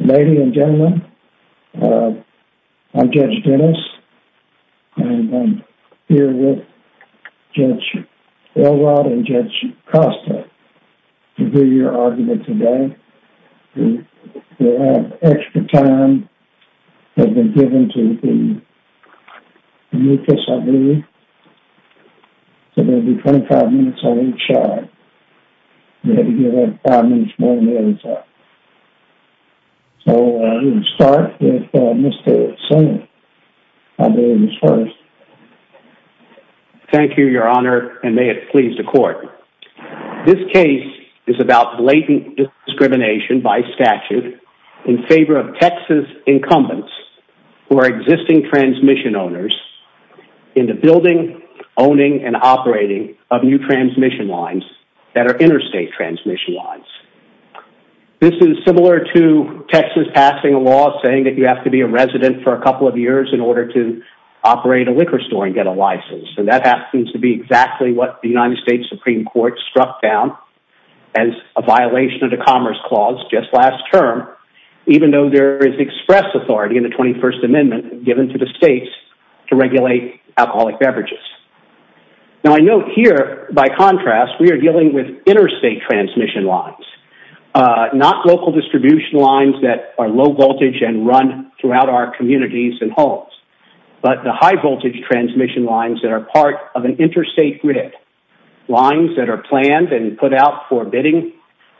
Ladies and gentlemen, I'm Judge Dennis and I'm here with Judge Elrod and Judge Costa to hear your argument today. We have extra time that has been given to the mucus, I believe. So there will be 25 minutes on each side. You have to give that 5 minutes more than the others have. So I'm going to start with Mr. Singer. I believe he's first. Thank you, your honor, and may it please the court. This case is about blatant discrimination by statute in favor of Texas incumbents who are existing transmission owners into building, owning, and operating of new transmission lines that are interstate transmission lines. This is similar to Texas passing a law saying that you have to be a resident for a couple of years in order to operate a liquor store and get a license. And that happens to be exactly what the United States Supreme Court struck down as a violation of the Commerce Clause just last term, even though there is express authority in the 21st Amendment given to the states to regulate alcoholic beverages. Now I note here, by contrast, we are dealing with interstate transmission lines. Not local distribution lines that are low voltage and run throughout our communities and homes, but the high voltage transmission lines that are part of an interstate grid. Lines that are planned and put out for bidding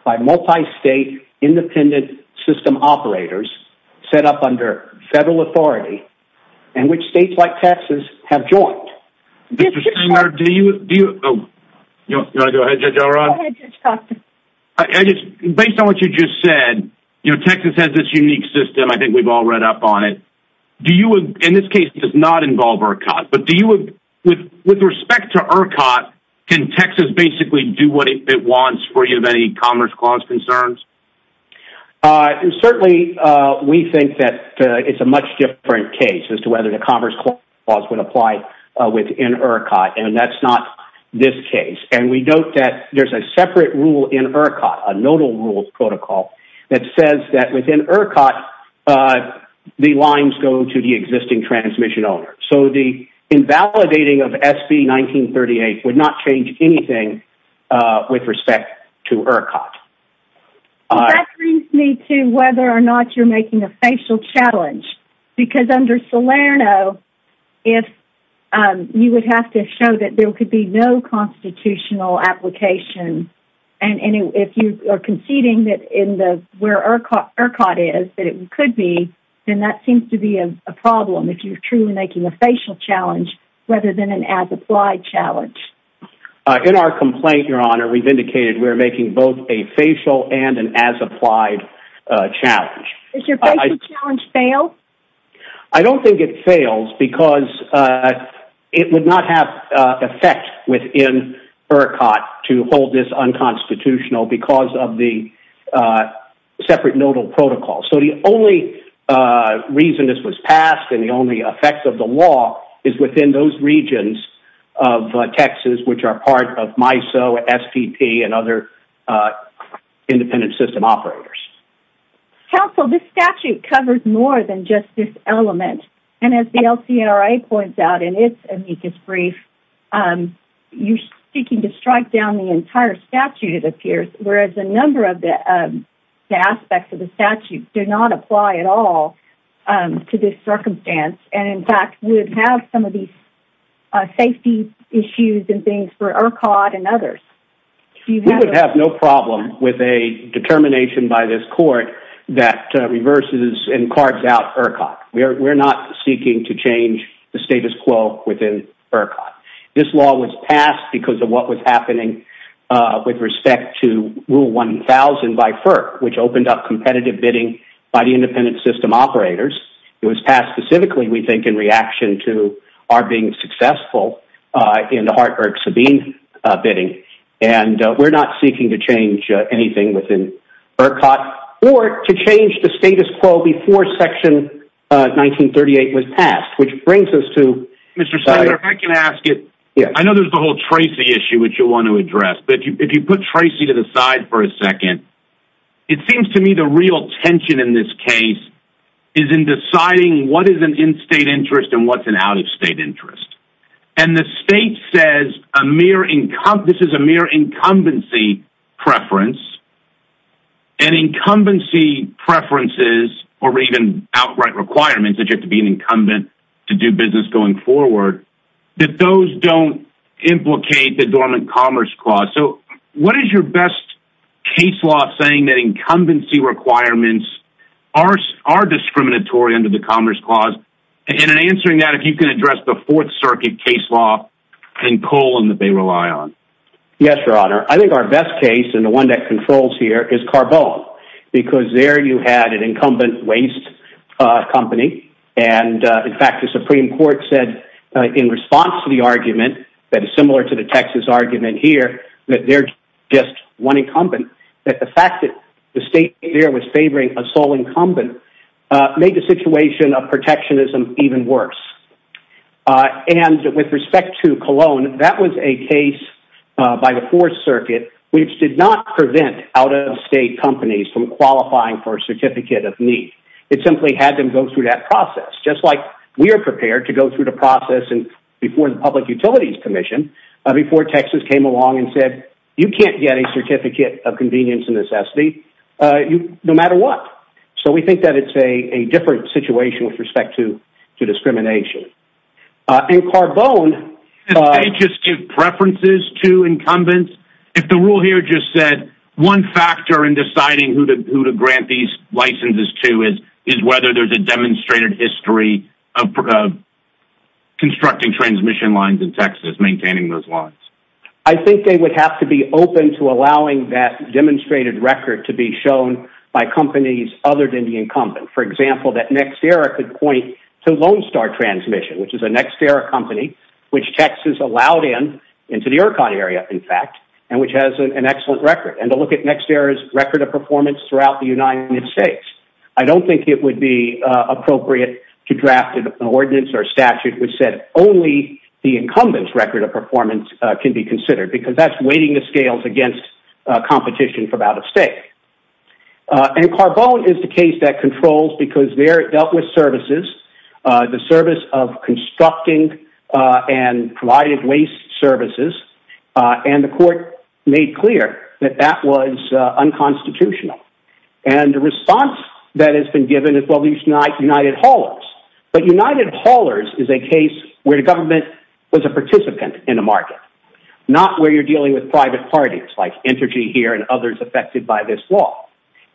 by multi-state independent system operators set up under federal authority and which states like Texas have joined. Mr. Stringer, based on what you just said, Texas has this unique system, I think we've all read up on it. In this case, it does not involve ERCOT, but with respect to ERCOT, can Texas basically do what it wants free of any Commerce Clause concerns? Certainly, we think that it's a much different case as to whether the Commerce Clause would apply within ERCOT, and that's not this case. And we note that there's a separate rule in ERCOT, a nodal rules protocol, that says that within ERCOT, the lines go to the existing transmission owner. So the invalidating of SB 1938 would not change anything with respect to ERCOT. That brings me to whether or not you're making a facial challenge. Because under Salerno, you would have to show that there could be no constitutional application. And if you are conceding that where ERCOT is, that it could be, then that seems to be a problem if you're truly making a facial challenge rather than an as-applied challenge. In our complaint, Your Honor, we've indicated we're making both a facial and an as-applied challenge. Does your facial challenge fail? I don't think it fails because it would not have effect within ERCOT to hold this unconstitutional because of the separate nodal protocol. So the only reason this was passed and the only effect of the law is within those regions of Texas, which are part of MISO, SPP, and other independent system operators. Counsel, this statute covers more than just this element. And as the LCRA points out in its amicus brief, you're seeking to strike down the entire statute, it appears, whereas a number of the aspects of the statute do not apply at all to this circumstance. And, in fact, would have some of these safety issues and things for ERCOT and others. We would have no problem with a determination by this court that reverses and cards out ERCOT. We're not seeking to change the status quo within ERCOT. This law was passed because of what was happening with respect to Rule 1000 by FERC, which opened up competitive bidding by the independent system operators. It was passed specifically, we think, in reaction to our being successful in the Hartburg-Sabine bidding. And we're not seeking to change anything within ERCOT or to change the status quo before Section 1938 was passed, which brings us to... Mr. Senator, if I can ask you, I know there's the whole Tracy issue, which you want to address. But if you put Tracy to the side for a second, it seems to me the real tension in this case is in deciding what is an in-state interest and what's an out-of-state interest. And the state says this is a mere incumbency preference. And incumbency preferences, or even outright requirements that you have to be an incumbent to do business going forward, that those don't implicate the dormant commerce clause. So what is your best case law saying that incumbency requirements are discriminatory under the commerce clause? And in answering that, if you can address the Fourth Circuit case law in colon that they rely on. Yes, Your Honor. I think our best case, and the one that controls here, is Carbone. Because there you had an incumbent waste company. And, in fact, the Supreme Court said in response to the argument that is similar to the Texas argument here, that they're just one incumbent. That the fact that the state there was favoring a sole incumbent made the situation of protectionism even worse. And with respect to Colon, that was a case by the Fourth Circuit which did not prevent out-of-state companies from qualifying for a certificate of need. It simply had them go through that process. Just like we are prepared to go through the process before the Public Utilities Commission, before Texas came along and said, You can't get a certificate of convenience and necessity no matter what. So we think that it's a different situation with respect to discrimination. And Carbone... Did they just give preferences to incumbents? If the rule here just said, one factor in deciding who to grant these licenses to is whether there's a demonstrated history of constructing transmission lines in Texas, maintaining those lines. I think they would have to be open to allowing that demonstrated record to be shown by companies other than the incumbent. For example, that NextEra could point to Lone Star Transmission, which is a NextEra company. Which Texas allowed in, into the Iroquois area in fact. And which has an excellent record. And to look at NextEra's record of performance throughout the United States. I don't think it would be appropriate to draft an ordinance or statute which said only the incumbent's record of performance can be considered. Because that's weighting the scales against competition from out-of-state. And Carbone is the case that controls because they're dealt with services. The service of constructing and providing waste services. And the court made clear that that was unconstitutional. And the response that has been given is, well, these United Haulers. But United Haulers is a case where the government was a participant in a market. Not where you're dealing with private parties like Entergy here and others affected by this law.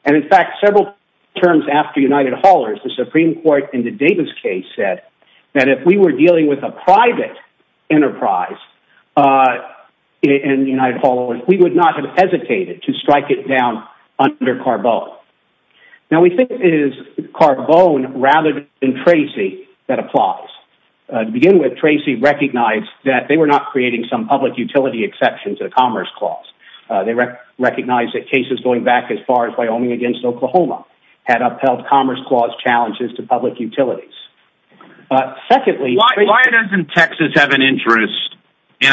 And in fact, several terms after United Haulers, the Supreme Court in the Davis case said that if we were dealing with a private enterprise in United Haulers, we would not have hesitated to strike it down under Carbone. Now we think it is Carbone rather than Tracy that applies. To begin with, Tracy recognized that they were not creating some public utility exception to the Commerce Clause. They recognized that cases going back as far as Wyoming against Oklahoma had upheld Commerce Clause challenges to public utilities. Why doesn't Texas have an interest in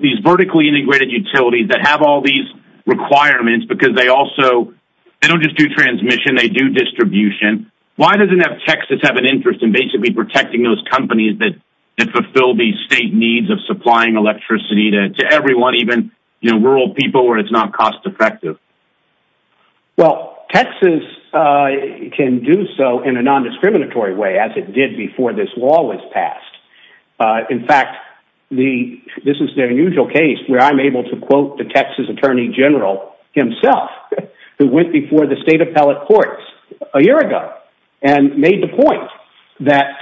these vertically integrated utilities that have all these requirements? Because they don't just do transmission, they do distribution. Why doesn't Texas have an interest in basically protecting those companies that fulfill these state needs of supplying electricity to everyone, even rural people where it's not cost effective? Well, Texas can do so in a non-discriminatory way as it did before this law was passed. In fact, this is their usual case where I'm able to quote the Texas Attorney General himself who went before the state appellate courts a year ago and made the point that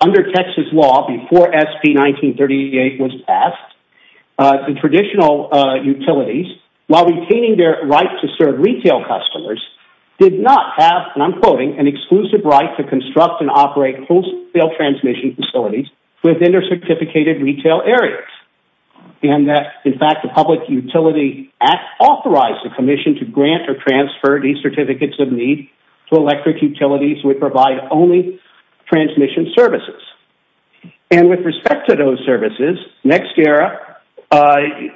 under Texas law before SB 1938 was passed, the traditional utilities, while retaining their right to serve retail customers, did not have, and I'm quoting, an exclusive right to construct and operate wholesale transmission facilities within their certificated retail areas. And that, in fact, the Public Utility Act authorized the commission to grant or transfer these certificates of need to electric utilities who would provide only transmission services. And with respect to those services, NextEra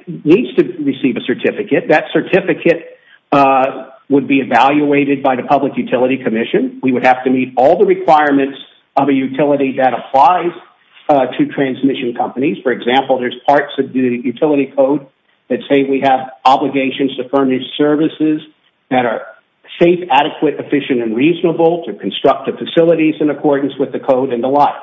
needs to receive a certificate. That certificate would be evaluated by the Public Utility Commission. We would have to meet all the requirements of a utility that applies to transmission companies. For example, there's parts of the utility code that say we have obligations to furnish services that are safe, adequate, efficient, and reasonable to construct the facilities in accordance with the code and the like.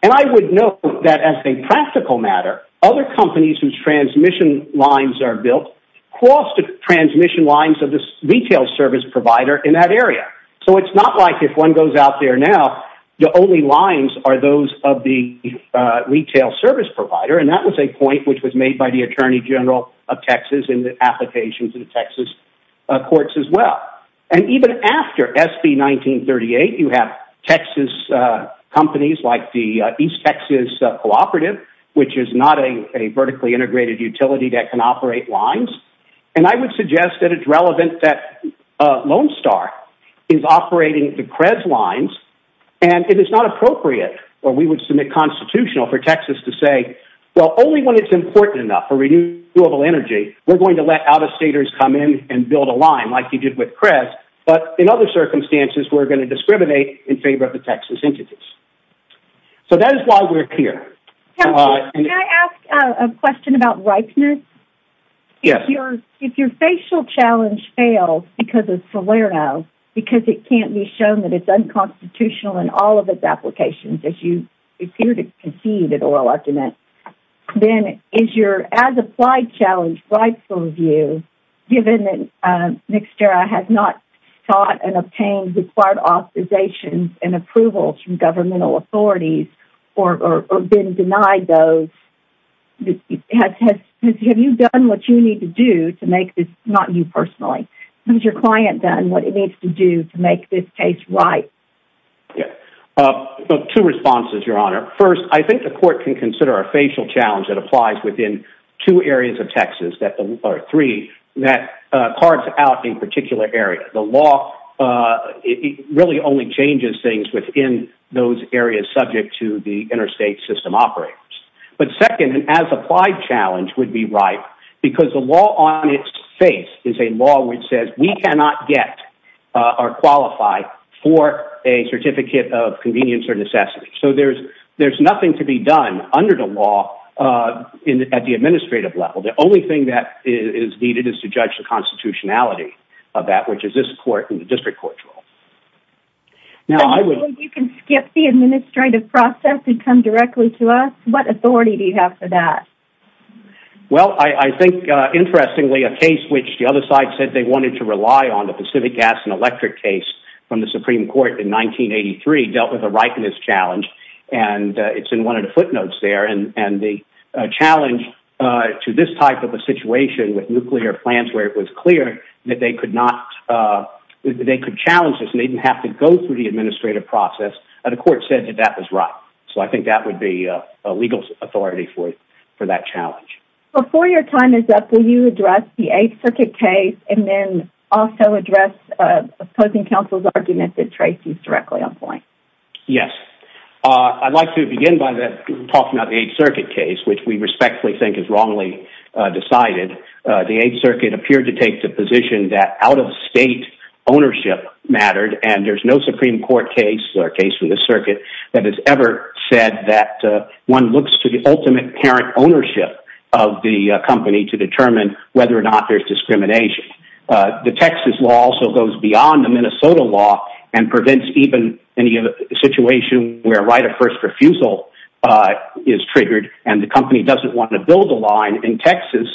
And I would note that as a practical matter, other companies whose transmission lines are built cross the transmission lines of the retail service provider in that area. So it's not like if one goes out there now, the only lines are those of the retail service provider. And that was a point which was made by the Attorney General of Texas in the application to the Texas courts as well. And even after SB 1938, you have Texas companies like the East Texas Cooperative, which is not a vertically integrated utility that can operate lines. And I would suggest that it's relevant that Lone Star is operating the CREZ lines. And it is not appropriate or we would submit constitutional for Texas to say, well, only when it's important enough for renewable energy, we're going to let out-of-staters come in and build a line like you did with CREZ. But in other circumstances, we're going to discriminate in favor of the Texas entities. So that is why we're here. Can I ask a question about ripeness? Yes. If your facial challenge fails because of Salerno, because it can't be shown that it's unconstitutional in all of its applications as you appear to concede it or elect in it, then is your as-applied challenge rightful of you given that NCSERA has not sought and obtained required authorization and approval from governmental authorities or been denied those? Have you done what you need to do to make this, not you personally, has your client done what it needs to do to make this case right? Yes. Two responses, Your Honor. First, I think the court can consider a facial challenge that applies within two areas of Texas, or three, that cards out a particular area. The law really only changes things within those areas subject to the interstate system operators. But second, an as-applied challenge would be right because the law on its face is a law which says we cannot get or qualify for a certificate of convenience or necessity. So there's nothing to be done under the law at the administrative level. The only thing that is needed is to judge the constitutionality of that, which is this court and the district court rule. Does that mean you can skip the administrative process and come directly to us? What authority do you have for that? Well, I think, interestingly, a case which the other side said they wanted to rely on, the Pacific Gas and Electric case from the Supreme Court in 1983, dealt with a ripeness challenge. And it's in one of the footnotes there. And the challenge to this type of a situation with nuclear plants where it was clear that they could challenge this and they didn't have to go through the administrative process, the court said that that was right. So I think that would be a legal authority for that challenge. Before your time is up, will you address the 8th Circuit case and then also address opposing counsel's argument that traces directly on point? Yes. I'd like to begin by talking about the 8th Circuit case, which we respectfully think is wrongly decided. The 8th Circuit appeared to take the position that out-of-state ownership mattered. And there's no Supreme Court case or case for the circuit that has ever said that one looks to the ultimate parent ownership of the company to determine whether or not there's discrimination. The Texas law also goes beyond the Minnesota law and prevents even any situation where right-of-first refusal is triggered and the company doesn't want to build a line in Texas.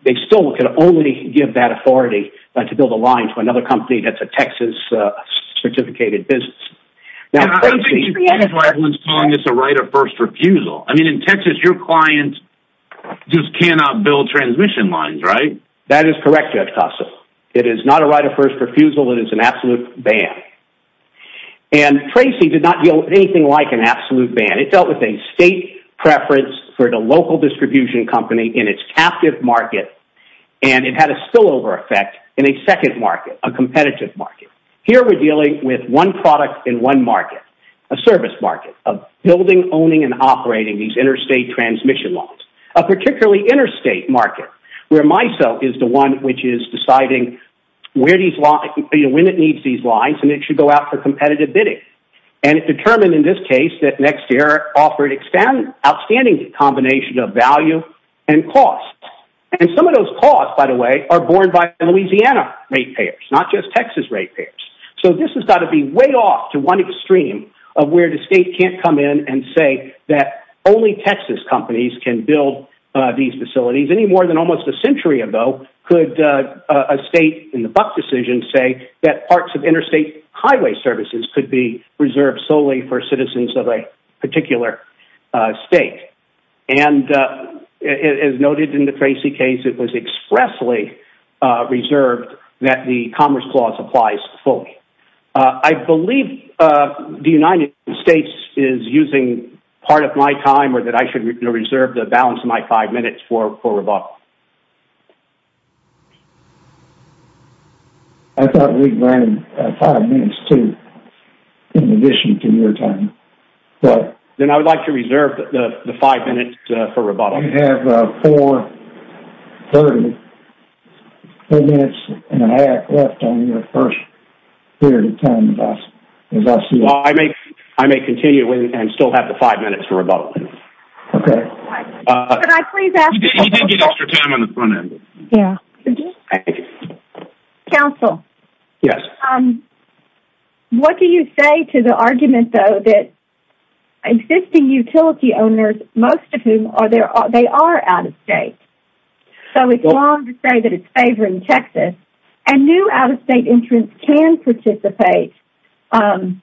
They still can only give that authority to build a line to another company that's a Texas-certificated business. And I think that's why everyone's calling this a right-of-first refusal. I mean, in Texas, your client just cannot build transmission lines, right? That is correct, Judge Costa. It is not a right-of-first refusal. It is an absolute ban. And Tracy did not deal with anything like an absolute ban. It dealt with a state preference for the local distribution company in its captive market. And it had a spillover effect in a second market, a competitive market. Here we're dealing with one product in one market, a service market of building, owning, and operating these interstate transmission lines. A particularly interstate market where MISO is the one which is deciding when it needs these lines and it should go out for competitive bidding. And it determined in this case that Nextier offered outstanding combination of value and cost. And some of those costs, by the way, are borne by Louisiana ratepayers, not just Texas ratepayers. So this has got to be way off to one extreme of where the state can't come in and say that only Texas companies can build these facilities. Any more than almost a century ago could a state in the Buck decision say that parts of interstate highway services could be reserved solely for citizens of a particular state. And as noted in the Tracy case, it was expressly reserved that the Commerce Clause applies fully. I believe the United States is using part of my time or that I should reserve the balance of my five minutes for rebuttal. I thought we granted five minutes, too, in addition to your time. Then I would like to reserve the five minutes for rebuttal. You have four minutes and a half left on your first period of time, as I see it. I may continue and still have the five minutes for rebuttal. Okay. Could I please ask... You did get extra time on the front end. Yeah. Counsel. Yes. What do you say to the argument, though, that existing utility owners, most of whom, they are out-of-state. So it's wrong to say that it's favoring Texas. And new out-of-state entrants can participate, and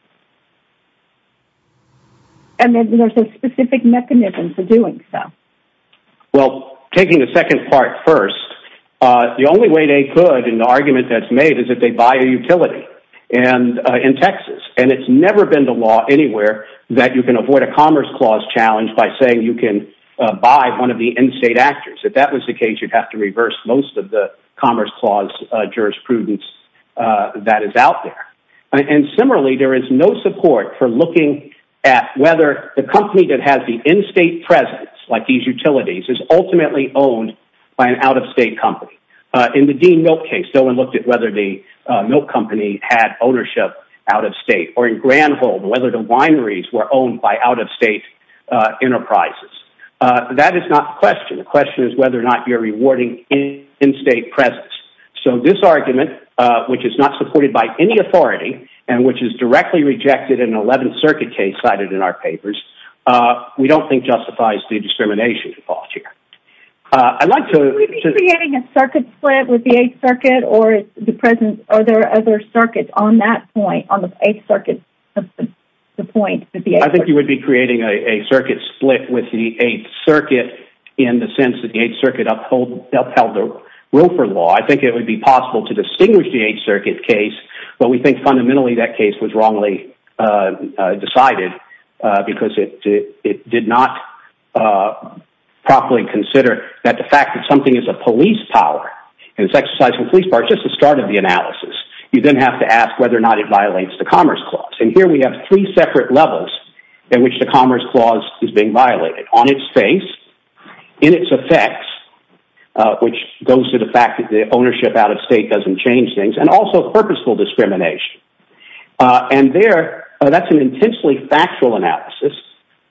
there's a specific mechanism for doing so. Well, taking the second part first, the only way they could, in the argument that's made, is if they buy a utility in Texas. And it's never been the law anywhere that you can avoid a Commerce Clause challenge by saying you can buy one of the in-state actors. If that was the case, you'd have to reverse most of the Commerce Clause jurisprudence that is out there. And similarly, there is no support for looking at whether the company that has the in-state presence, like these utilities, is ultimately owned by an out-of-state company. In the Dean Milk case, no one looked at whether the milk company had ownership out-of-state. Or in Granholm, whether the wineries were owned by out-of-state enterprises. That is not the question. The question is whether or not you're rewarding in-state presence. So this argument, which is not supported by any authority, and which is directly rejected in an 11th Circuit case cited in our papers, we don't think justifies the discrimination clause here. I'd like to... Would you be creating a circuit split with the 8th Circuit, or are there other circuits on that point, on the 8th Circuit? I think you would be creating a circuit split with the 8th Circuit in the sense that the 8th Circuit upheld the Wilfer Law. I think it would be possible to distinguish the 8th Circuit case, but we think fundamentally that case was wrongly decided. Because it did not properly consider that the fact that something is a police power, and it's exercising police power, is just the start of the analysis. You then have to ask whether or not it violates the Commerce Clause. And here we have three separate levels in which the Commerce Clause is being violated. On its face, in its effects, which goes to the fact that the ownership out-of-state doesn't change things, and also purposeful discrimination. And there, that's an intensely factual analysis.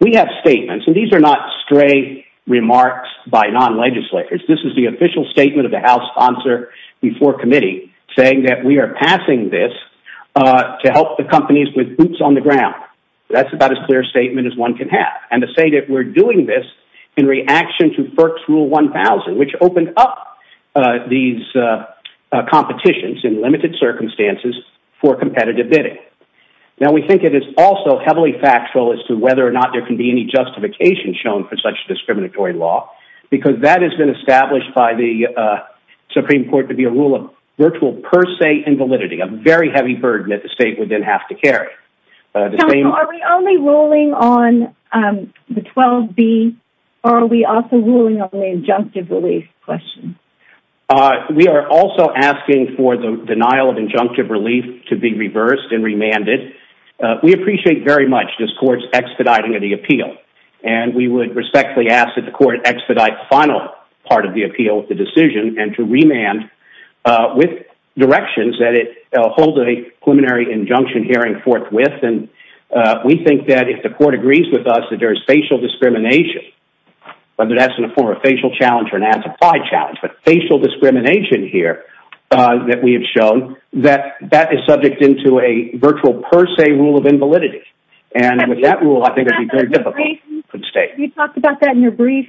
We have statements, and these are not stray remarks by non-legislators. This is the official statement of the House sponsor before committee, saying that we are passing this to help the companies with boots on the ground. That's about as clear a statement as one can have. And to say that we're doing this in reaction to FERC's Rule 1000, which opened up these competitions in limited circumstances for competitive bidding. Now, we think it is also heavily factual as to whether or not there can be any justification shown for such discriminatory law. Because that has been established by the Supreme Court to be a rule of virtual per se invalidity. A very heavy burden that the state would then have to carry. Counsel, are we only ruling on the 12B? Or are we also ruling on the injunctive relief question? We are also asking for the denial of injunctive relief to be reversed and remanded. We appreciate very much this Court's expediting of the appeal. And we would respectfully ask that the Court expedite the final part of the appeal, the decision, and to remand with directions that it hold a preliminary injunction hearing forthwith. And we think that if the Court agrees with us that there is facial discrimination, whether that's in the form of a facial challenge or an anti-applied challenge, but facial discrimination here that we have shown, that that is subject into a virtual per se rule of invalidity. And with that rule, I think it would be very difficult for the state. Have you talked about that in your brief?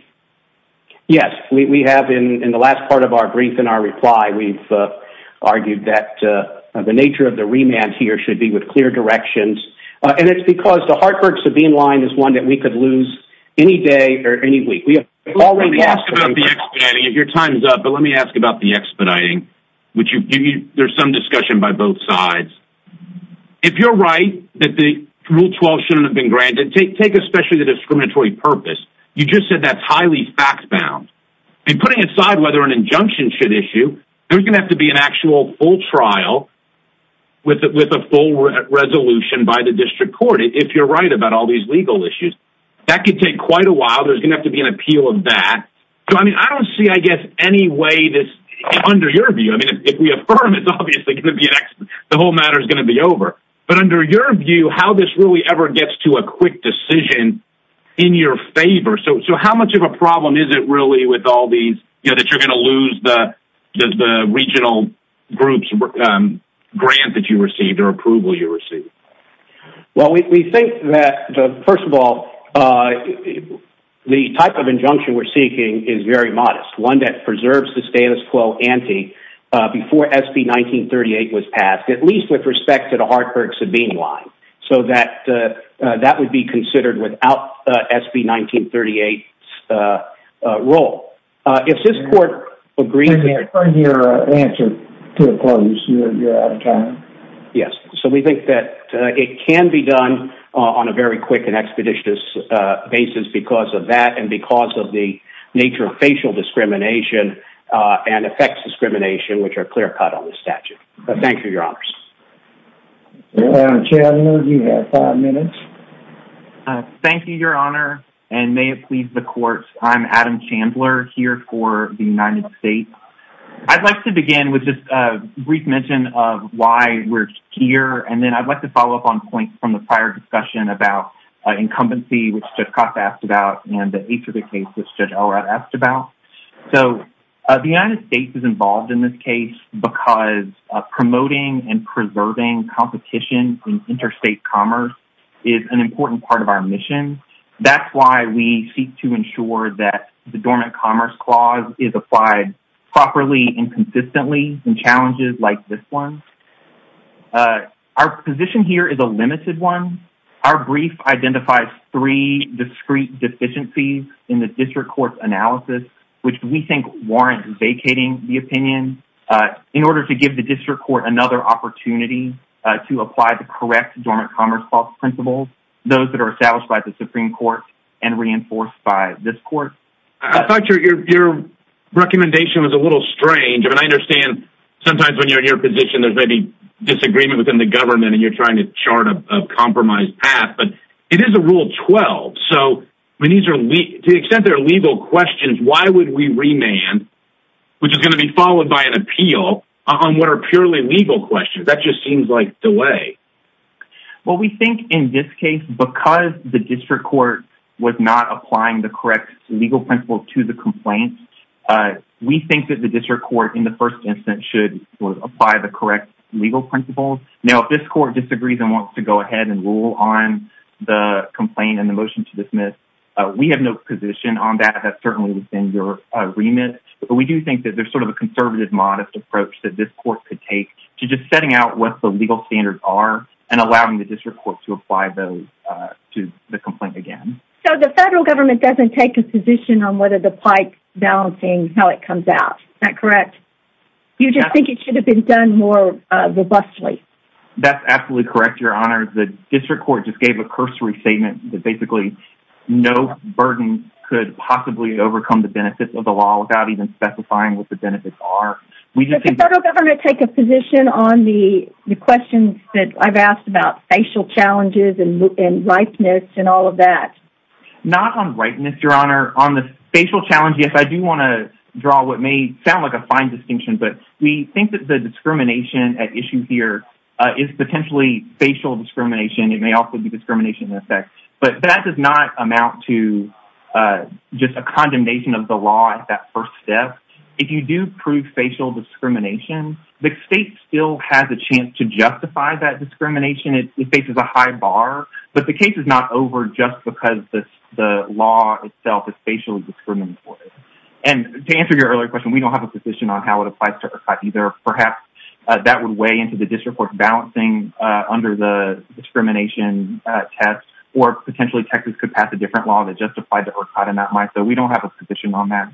Yes, we have in the last part of our brief in our reply. We've argued that the nature of the remand here should be with clear directions. And it's because the Hartford-Sabine line is one that we could lose any day or any week. Let me ask about the expediting. Your time is up, but let me ask about the expediting. There's some discussion by both sides. If you're right that the Rule 12 shouldn't have been granted, take especially the discriminatory purpose. You just said that's highly fact-bound. And putting aside whether an injunction should issue, there's going to have to be an actual full trial with a full resolution by the District Court, if you're right about all these legal issues. That could take quite a while. There's going to have to be an appeal of that. I don't see, I guess, any way that, under your view, I mean, if we affirm, it's obviously going to be an accident. The whole matter is going to be over. But under your view, how this really ever gets to a quick decision in your favor? So how much of a problem is it really with all these, you know, that you're going to lose the regional grant that you received or approval you received? Well, we think that, first of all, the type of injunction we're seeking is very modest. One that preserves the status quo ante before SB 1938 was passed, at least with respect to the Hartburg-Sabini line. So that would be considered without SB 1938's role. If this Court agrees... I'm trying to hear an answer to the question. You're out of time. Yes. So we think that it can be done on a very quick and expeditious basis because of that and because of the nature of facial discrimination and effects discrimination, which are clear-cut on the statute. Thank you, Your Honors. Adam Chandler, you have five minutes. Thank you, Your Honor, and may it please the Court, I'm Adam Chandler here for the United States. I'd like to begin with just a brief mention of why we're here. And then I'd like to follow up on points from the prior discussion about incumbency, which Judge Costa asked about, and the age of the case, which Judge Allred asked about. So the United States is involved in this case because promoting and preserving competition in interstate commerce is an important part of our mission. That's why we seek to ensure that the Dormant Commerce Clause is applied properly and consistently in challenges like this one. Our position here is a limited one. Our brief identifies three discrete deficiencies in the District Court's analysis, which we think warrant vacating the opinion in order to give the District Court another opportunity to apply the correct Dormant Commerce Clause principles, those that are established by the Supreme Court and reinforced by this Court. I thought your recommendation was a little strange. I mean, I understand sometimes when you're in your position there's maybe disagreement within the government and you're trying to chart a compromised path, but it is a Rule 12. So to the extent there are legal questions, why would we remand, which is going to be followed by an appeal, on what are purely legal questions? That just seems like delay. Well, we think in this case, because the District Court was not applying the correct legal principles to the complaint, we think that the District Court in the first instance should apply the correct legal principles. Now, if this Court disagrees and wants to go ahead and rule on the complaint and the motion to dismiss, we have no position on that. That's certainly within your remit. But we do think that there's sort of a conservative, modest approach that this Court could take to just setting out what the legal standards are and allowing the District Court to apply those to the complaint again. So the federal government doesn't take a position on whether the pipe balancing, how it comes out. Is that correct? You just think it should have been done more robustly. That's absolutely correct, Your Honor. The District Court just gave a cursory statement that basically no burden could possibly overcome the benefits of the law without even specifying what the benefits are. Does the federal government take a position on the questions that I've asked about facial challenges and ripeness and all of that? Your Honor, on the facial challenge, yes, I do want to draw what may sound like a fine distinction, but we think that the discrimination at issue here is potentially facial discrimination. It may also be discrimination in effect. But that does not amount to just a condemnation of the law at that first step. If you do prove facial discrimination, the state still has a chance to justify that discrimination. It faces a high bar. But the case is not over just because the law itself is facially discriminatory. And to answer your earlier question, we don't have a position on how it applies to ERCOT either. Perhaps that would weigh into the District Court balancing under the discrimination test or potentially Texas could pass a different law that justified the ERCOT in that light. So we don't have a position on that.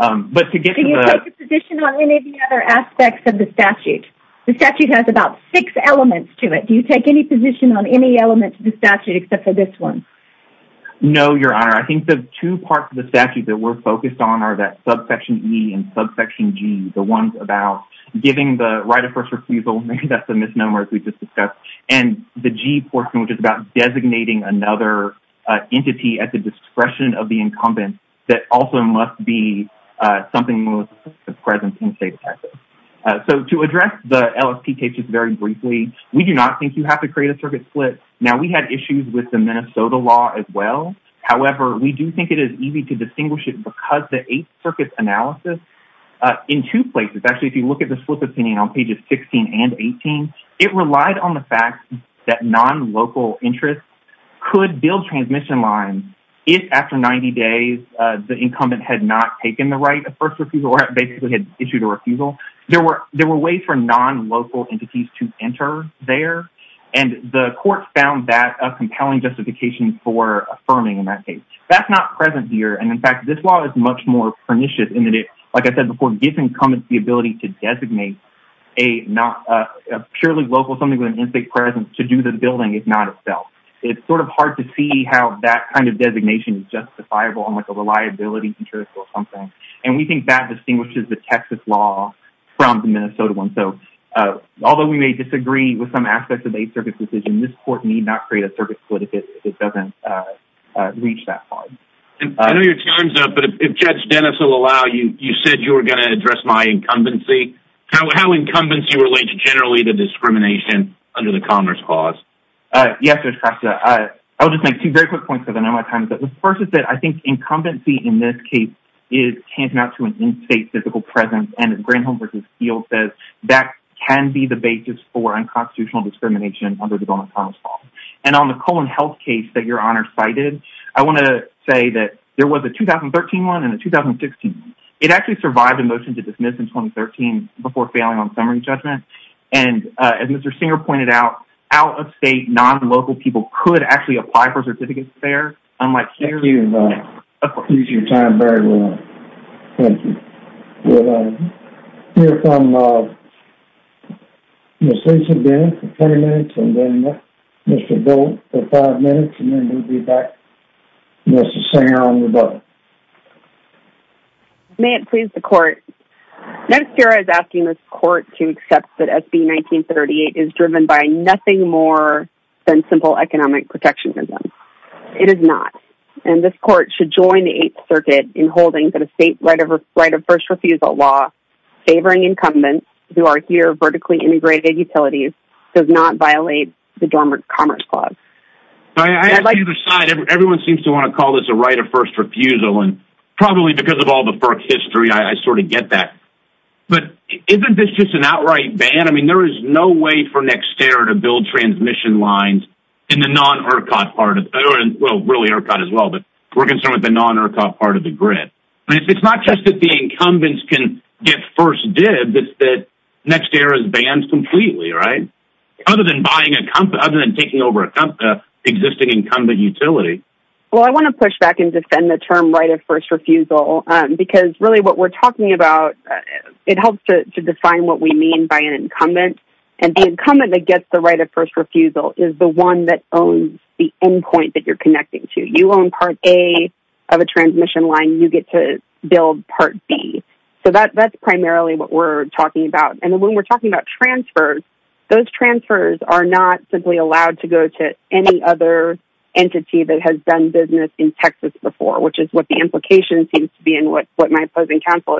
Do you take a position on any of the other aspects of the statute? The statute has about six elements to it. Do you take any position on any elements of the statute except for this one? No, Your Honor. I think the two parts of the statute that we're focused on are that subsection E and subsection G. The ones about giving the right of first refusal. Maybe that's a misnomer, as we just discussed. And the G portion, which is about designating another entity at the discretion of the incumbent, that also must be something with the presence in the state of Texas. So to address the LSP cases very briefly, we do not think you have to create a circuit split. Now, we had issues with the Minnesota law as well. However, we do think it is easy to distinguish it because the Eighth Circuit's analysis. In two places, actually, if you look at the split opinion on pages 16 and 18, it relied on the fact that non-local interests could build transmission lines if, after 90 days, the incumbent had not taken the right of first refusal or basically had issued a refusal. There were ways for non-local entities to enter there, and the court found that a compelling justification for affirming in that case. That's not present here. And, in fact, this law is much more pernicious in that it, like I said before, gives incumbents the ability to designate a purely local entity with an in-state presence to do the building, if not itself. It's sort of hard to see how that kind of designation is justifiable on a reliability interest or something. And we think that distinguishes the Texas law from the Minnesota one. Although we may disagree with some aspects of the Eighth Circuit's decision, this court need not create a circuit split if it doesn't reach that far. I know your time's up, but if Judge Dennis will allow you, you said you were going to address my incumbency. How incumbents do you relate to, generally, the discrimination under the Commerce Clause? Yes, Judge Castro. I'll just make two very quick points because I know my time's up. The first is that I think incumbency in this case is tantamount to an in-state physical presence. And as Granholm v. Steele says, that can be the basis for unconstitutional discrimination under the Government's Commerce Clause. And on the Colon Health case that Your Honor cited, I want to say that there was a 2013 one and a 2016 one. It actually survived a motion to dismiss in 2013 before failing on summary judgment. And as Mr. Singer pointed out, out-of-state, non-local people could actually apply for a certificate of fair, unlike here. Thank you, Your Honor. Of course. You used your time very well. Thank you. We'll hear from Ms. Lisa Bennett for 20 minutes, and then Mr. Gould for five minutes, and then we'll be back. May it please the Court. Next year, I was asking this Court to accept that SB 1938 is driven by nothing more than simple economic protectionism. It is not. And this Court should join the Eighth Circuit in holding that a state right of first refusal law favoring incumbents who are here vertically integrated utilities does not violate the Dormant Commerce Clause. I like your side. Everyone seems to want to call this a right of first refusal, and probably because of all the FERC history, I sort of get that. But isn't this just an outright ban? I mean, there is no way for NextEra to build transmission lines in the non-ERCOT part of—well, really ERCOT as well, but we're concerned with the non-ERCOT part of the grid. I mean, it's not just that the incumbents can get first dibs. It's that NextEra is banned completely, right? Other than taking over an existing incumbent utility. Well, I want to push back and defend the term right of first refusal, because really what we're talking about—it helps to define what we mean by an incumbent. And the incumbent that gets the right of first refusal is the one that owns the endpoint that you're connecting to. You own Part A of a transmission line. You get to build Part B. So that's primarily what we're talking about. And when we're talking about transfers, those transfers are not simply allowed to go to any other entity that has done business in Texas before, which is what the implication seems to be and what my opposing counsel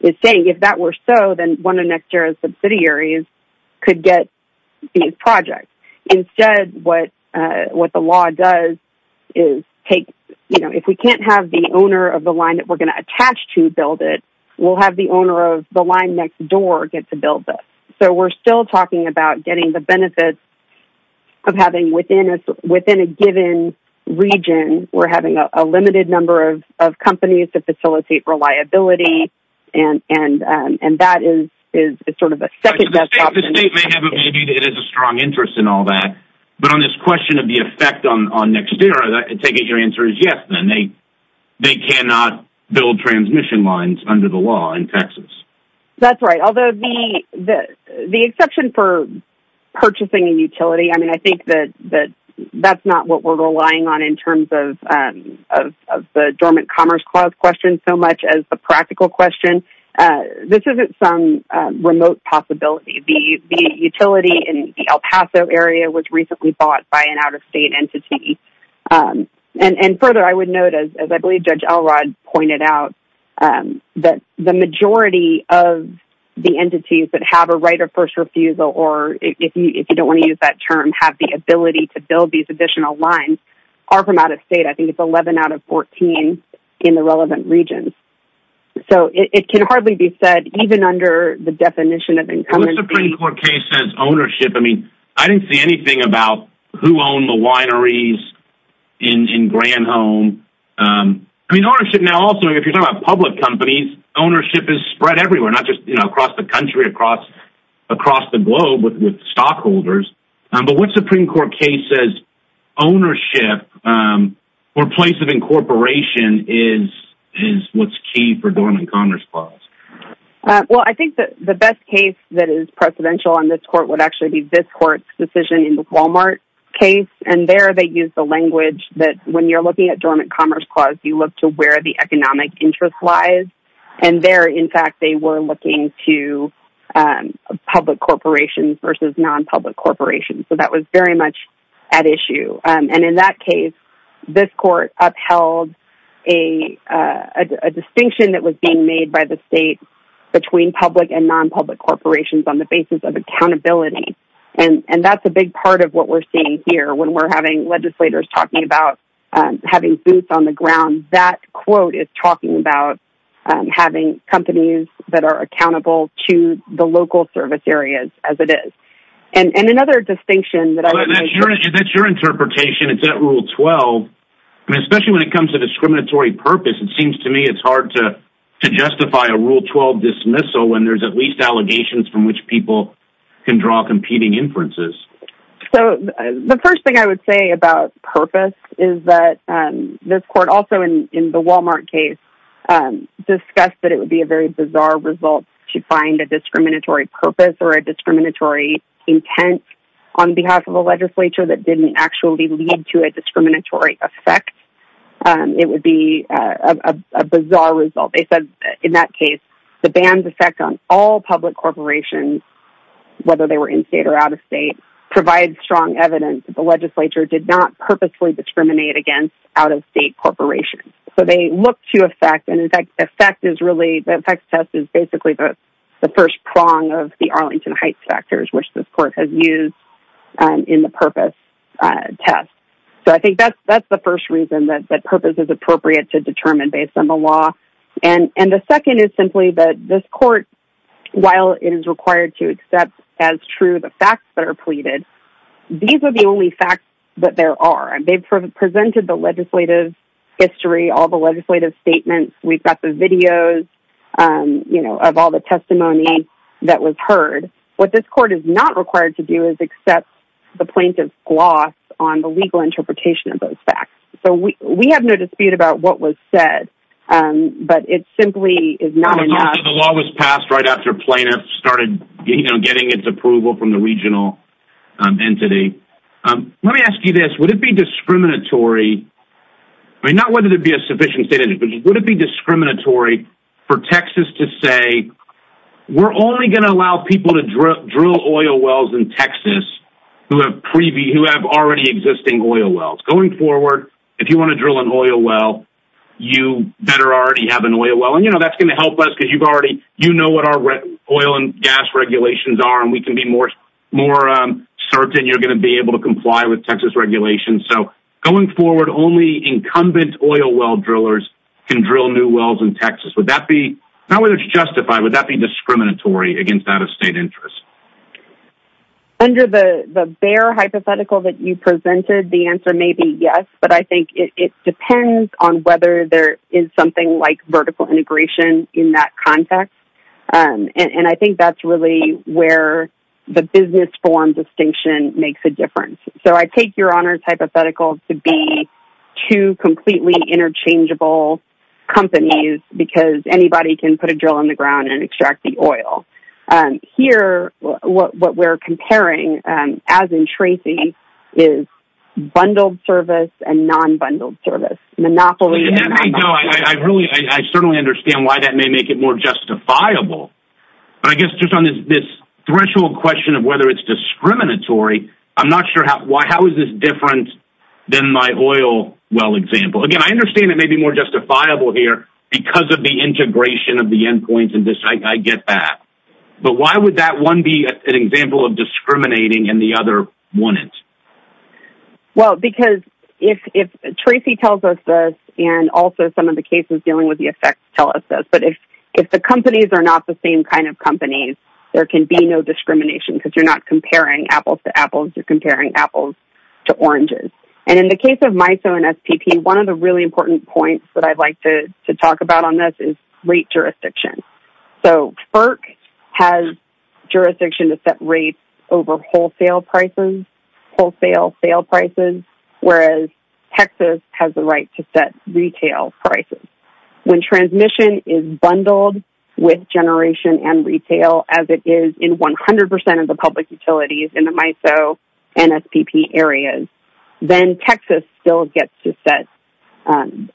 is saying. If that were so, then one of NextEra's subsidiaries could get these projects. Instead, what the law does is take—you know, if we can't have the owner of the line that we're going to attach to build it, we'll have the owner of the line next door get to build it. So we're still talking about getting the benefits of having—within a given region, we're having a limited number of companies to facilitate reliability, and that is sort of a second-best option. The state may have a—maybe it has a strong interest in all that, but on this question of the effect on NextEra, I take it your answer is yes, then. They cannot build transmission lines under the law in Texas. That's right, although the exception for purchasing a utility, I mean, I think that that's not what we're relying on in terms of the dormant commerce clause question so much as the practical question. This isn't some remote possibility. The utility in the El Paso area was recently bought by an out-of-state entity. And further, I would note, as I believe Judge Elrod pointed out, that the majority of the entities that have a right of first refusal or, if you don't want to use that term, have the ability to build these additional lines are from out-of-state. I think it's 11 out of 14 in the relevant regions. So it can hardly be said, even under the definition of income and fee— What Supreme Court case says ownership—I mean, I didn't see anything about who owned the wineries in Granholm. I mean, ownership now—also, if you're talking about public companies, ownership is spread everywhere, not just across the country, across the globe with stockholders. But what Supreme Court case says ownership or place of incorporation is what's key for dormant commerce clause? Well, I think the best case that is precedential on this court would actually be this court's decision in the Walmart case. And there they used the language that when you're looking at dormant commerce clause, you look to where the economic interest lies. And there, in fact, they were looking to public corporations versus non-public corporations. So that was very much at issue. And in that case, this court upheld a distinction that was being made by the state between public and non-public corporations on the basis of accountability. And that's a big part of what we're seeing here when we're having legislators talking about having boots on the ground. That quote is talking about having companies that are accountable to the local service areas as it is. That's your interpretation. It's at Rule 12. Especially when it comes to discriminatory purpose, it seems to me it's hard to justify a Rule 12 dismissal when there's at least allegations from which people can draw competing inferences. So the first thing I would say about purpose is that this court also in the Walmart case discussed that it would be a very bizarre result to find a discriminatory purpose or a discriminatory intent on behalf of a legislature that didn't actually lead to a discriminatory effect. It would be a bizarre result. They said in that case, the banned effect on all public corporations, whether they were in-state or out-of-state, provides strong evidence that the legislature did not purposefully discriminate against out-of-state corporations. So they look to effect. And in fact, the effect test is basically the first prong of the Arlington Heights factors, which this court has used in the purpose test. So I think that's the first reason that purpose is appropriate to determine based on the law. And the second is simply that this court, while it is required to accept as true the facts that are pleaded, these are the only facts that there are. And they've presented the legislative history, all the legislative statements. We've got the videos of all the testimony that was heard. What this court is not required to do is accept the plaintiff's gloss on the legal interpretation of those facts. So we have no dispute about what was said, but it simply is not enough. The law was passed right after plaintiffs started getting its approval from the regional entity. Let me ask you this. Would it be discriminatory, not whether it be a sufficient state entity, but would it be discriminatory for Texas to say, we're only going to allow people to drill oil wells in Texas who have already existing oil wells. Going forward, if you want to drill an oil well, you better already have an oil well. That's going to help us because you know what our oil and gas regulations are, and we can be more certain you're going to be able to comply with Texas regulations. So going forward, only incumbent oil well drillers can drill new wells in Texas. Not whether it's justified, but would that be discriminatory against that of state interest? Under the bare hypothetical that you presented, the answer may be yes, but I think it depends on whether there is something like vertical integration in that context. And I think that's really where the business form distinction makes a difference. So I take your honors hypothetical to be two completely interchangeable companies because anybody can put a drill in the ground and extract the oil. Here, what we're comparing, as in Tracy, is bundled service and non-bundled service. I certainly understand why that may make it more justifiable, but I guess just on this threshold question of whether it's discriminatory, I'm not sure how is this different than my oil well example. Again, I understand it may be more justifiable here because of the integration of the endpoints and this, I get that. But why would that one be an example of discriminating and the other wouldn't? Well, because if Tracy tells us this, and also some of the cases dealing with the effects tell us this, but if the companies are not the same kind of companies, there can be no discrimination because you're not comparing apples to apples, you're comparing apples to oranges. And in the case of MISO and SPP, one of the really important points that I'd like to talk about on this is rate jurisdiction. So FERC has jurisdiction to set rates over wholesale prices, wholesale sale prices, whereas Texas has the right to set retail prices. When transmission is bundled with generation and retail as it is in 100% of the public utilities in the MISO and SPP areas, then Texas still gets to set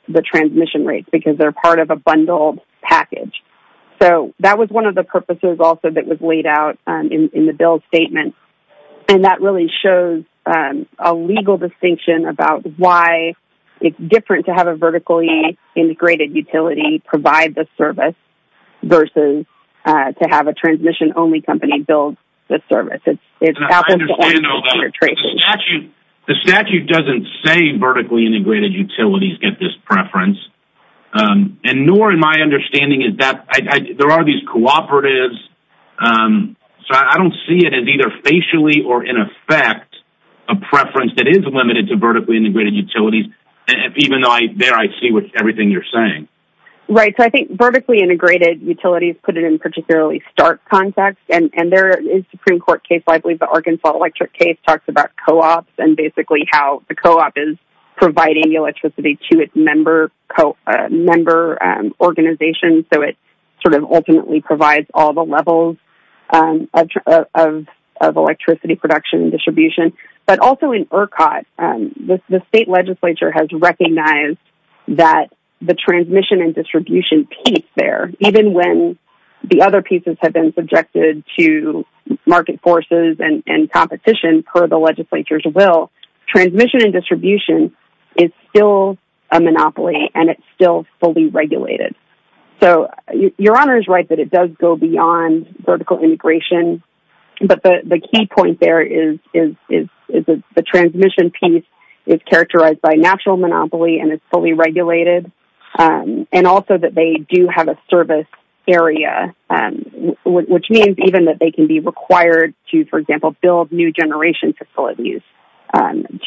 the transmission rates because they're part of a bundled package. So that was one of the purposes also that was laid out in the bill statement, and that really shows a legal distinction about why it's different to have a vertically integrated utility provide the service versus to have a transmission-only company build the service. The statute doesn't say vertically integrated utilities get this preference, and nor in my understanding is that there are these cooperatives, so I don't see it as either facially or in effect a preference that is limited to vertically integrated utilities, even though there I see everything you're saying. Right, so I think vertically integrated utilities put it in particularly stark context, and there is a Supreme Court case, I believe the Arkansas Electric case, talks about co-ops and basically how the co-op is providing the electricity to its member organizations, so it sort of ultimately provides all the levels of electricity production and distribution. But also in ERCOT, the state legislature has recognized that the transmission and distribution piece there, even when the other pieces have been subjected to market forces and competition per the legislature's will, transmission and distribution is still a monopoly and it's still fully regulated. So your Honor is right that it does go beyond vertical integration, but the key point there is the transmission piece is characterized by natural monopoly and is fully regulated, and also that they do have a service area, which means even that they can be required to, for example, build new generation facilities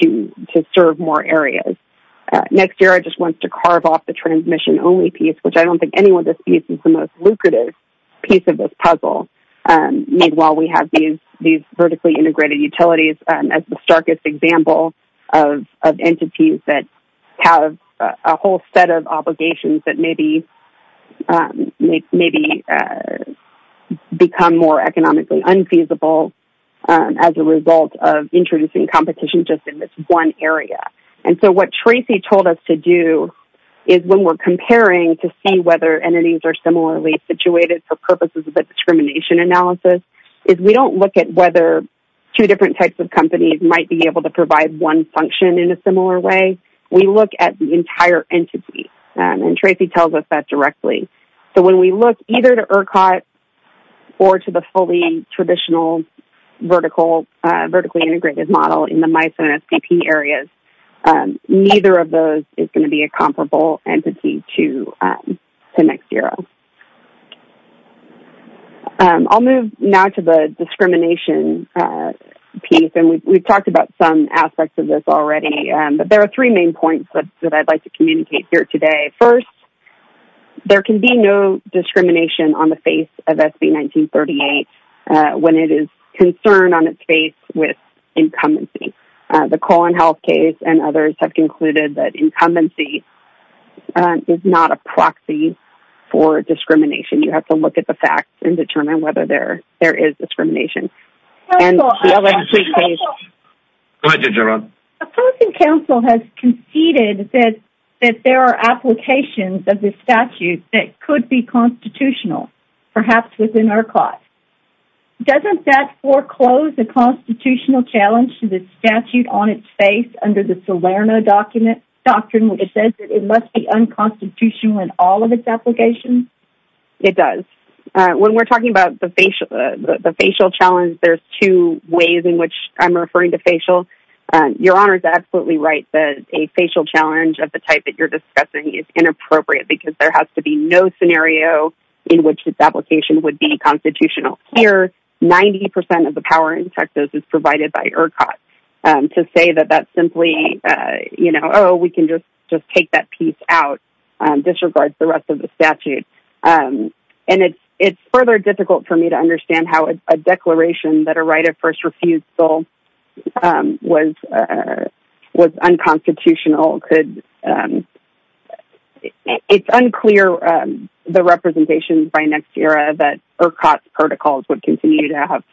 to serve more areas. Next year I just want to carve off the transmission only piece, which I don't think any of this piece is the most lucrative piece of this puzzle. Meanwhile we have these vertically integrated utilities as the starkest example of entities that have a whole set of obligations that maybe become more economically unfeasible as a result of introducing competition just in this one area. And so what Tracy told us to do is when we're comparing to see whether entities are similarly situated for purposes of a discrimination analysis, is we don't look at whether two different types of companies might be able to provide one function in a similar way. We look at the entire entity, and Tracy tells us that directly. So when we look either to ERCOT or to the fully traditional vertically integrated model in the MISO and SPP areas, neither of those is going to be a comparable entity to NextEro. I'll move now to the discrimination piece, and we've talked about some aspects of this already, but there are three main points that I'd like to communicate here today. First, there can be no discrimination on the face of SB1938 when it is concerned on its face with incumbency. The Collin Health case and others have concluded that incumbency is not a proxy for discrimination. You have to look at the facts and determine whether there is discrimination. And the LNP case... Go ahead, Ginger Roe. Opposing counsel has conceded that there are applications of this statute that could be constitutional, perhaps within ERCOT. Doesn't that foreclose a constitutional challenge to the statute on its face under the Salerno Doctrine, which says that it must be unconstitutional in all of its applications? It does. When we're talking about the facial challenge, there's two ways in which I'm referring to facial. Your Honor is absolutely right that a facial challenge of the type that you're discussing is inappropriate because there has to be no scenario in which its application would be constitutional. Here, 90% of the power in Texas is provided by ERCOT. To say that that's simply, you know, oh, we can just take that piece out disregards the rest of the statute. And it's further difficult for me to understand how a declaration that a right of first refusal was unconstitutional could...it's unclear the representation by next era that ERCOT's protocols would continue to have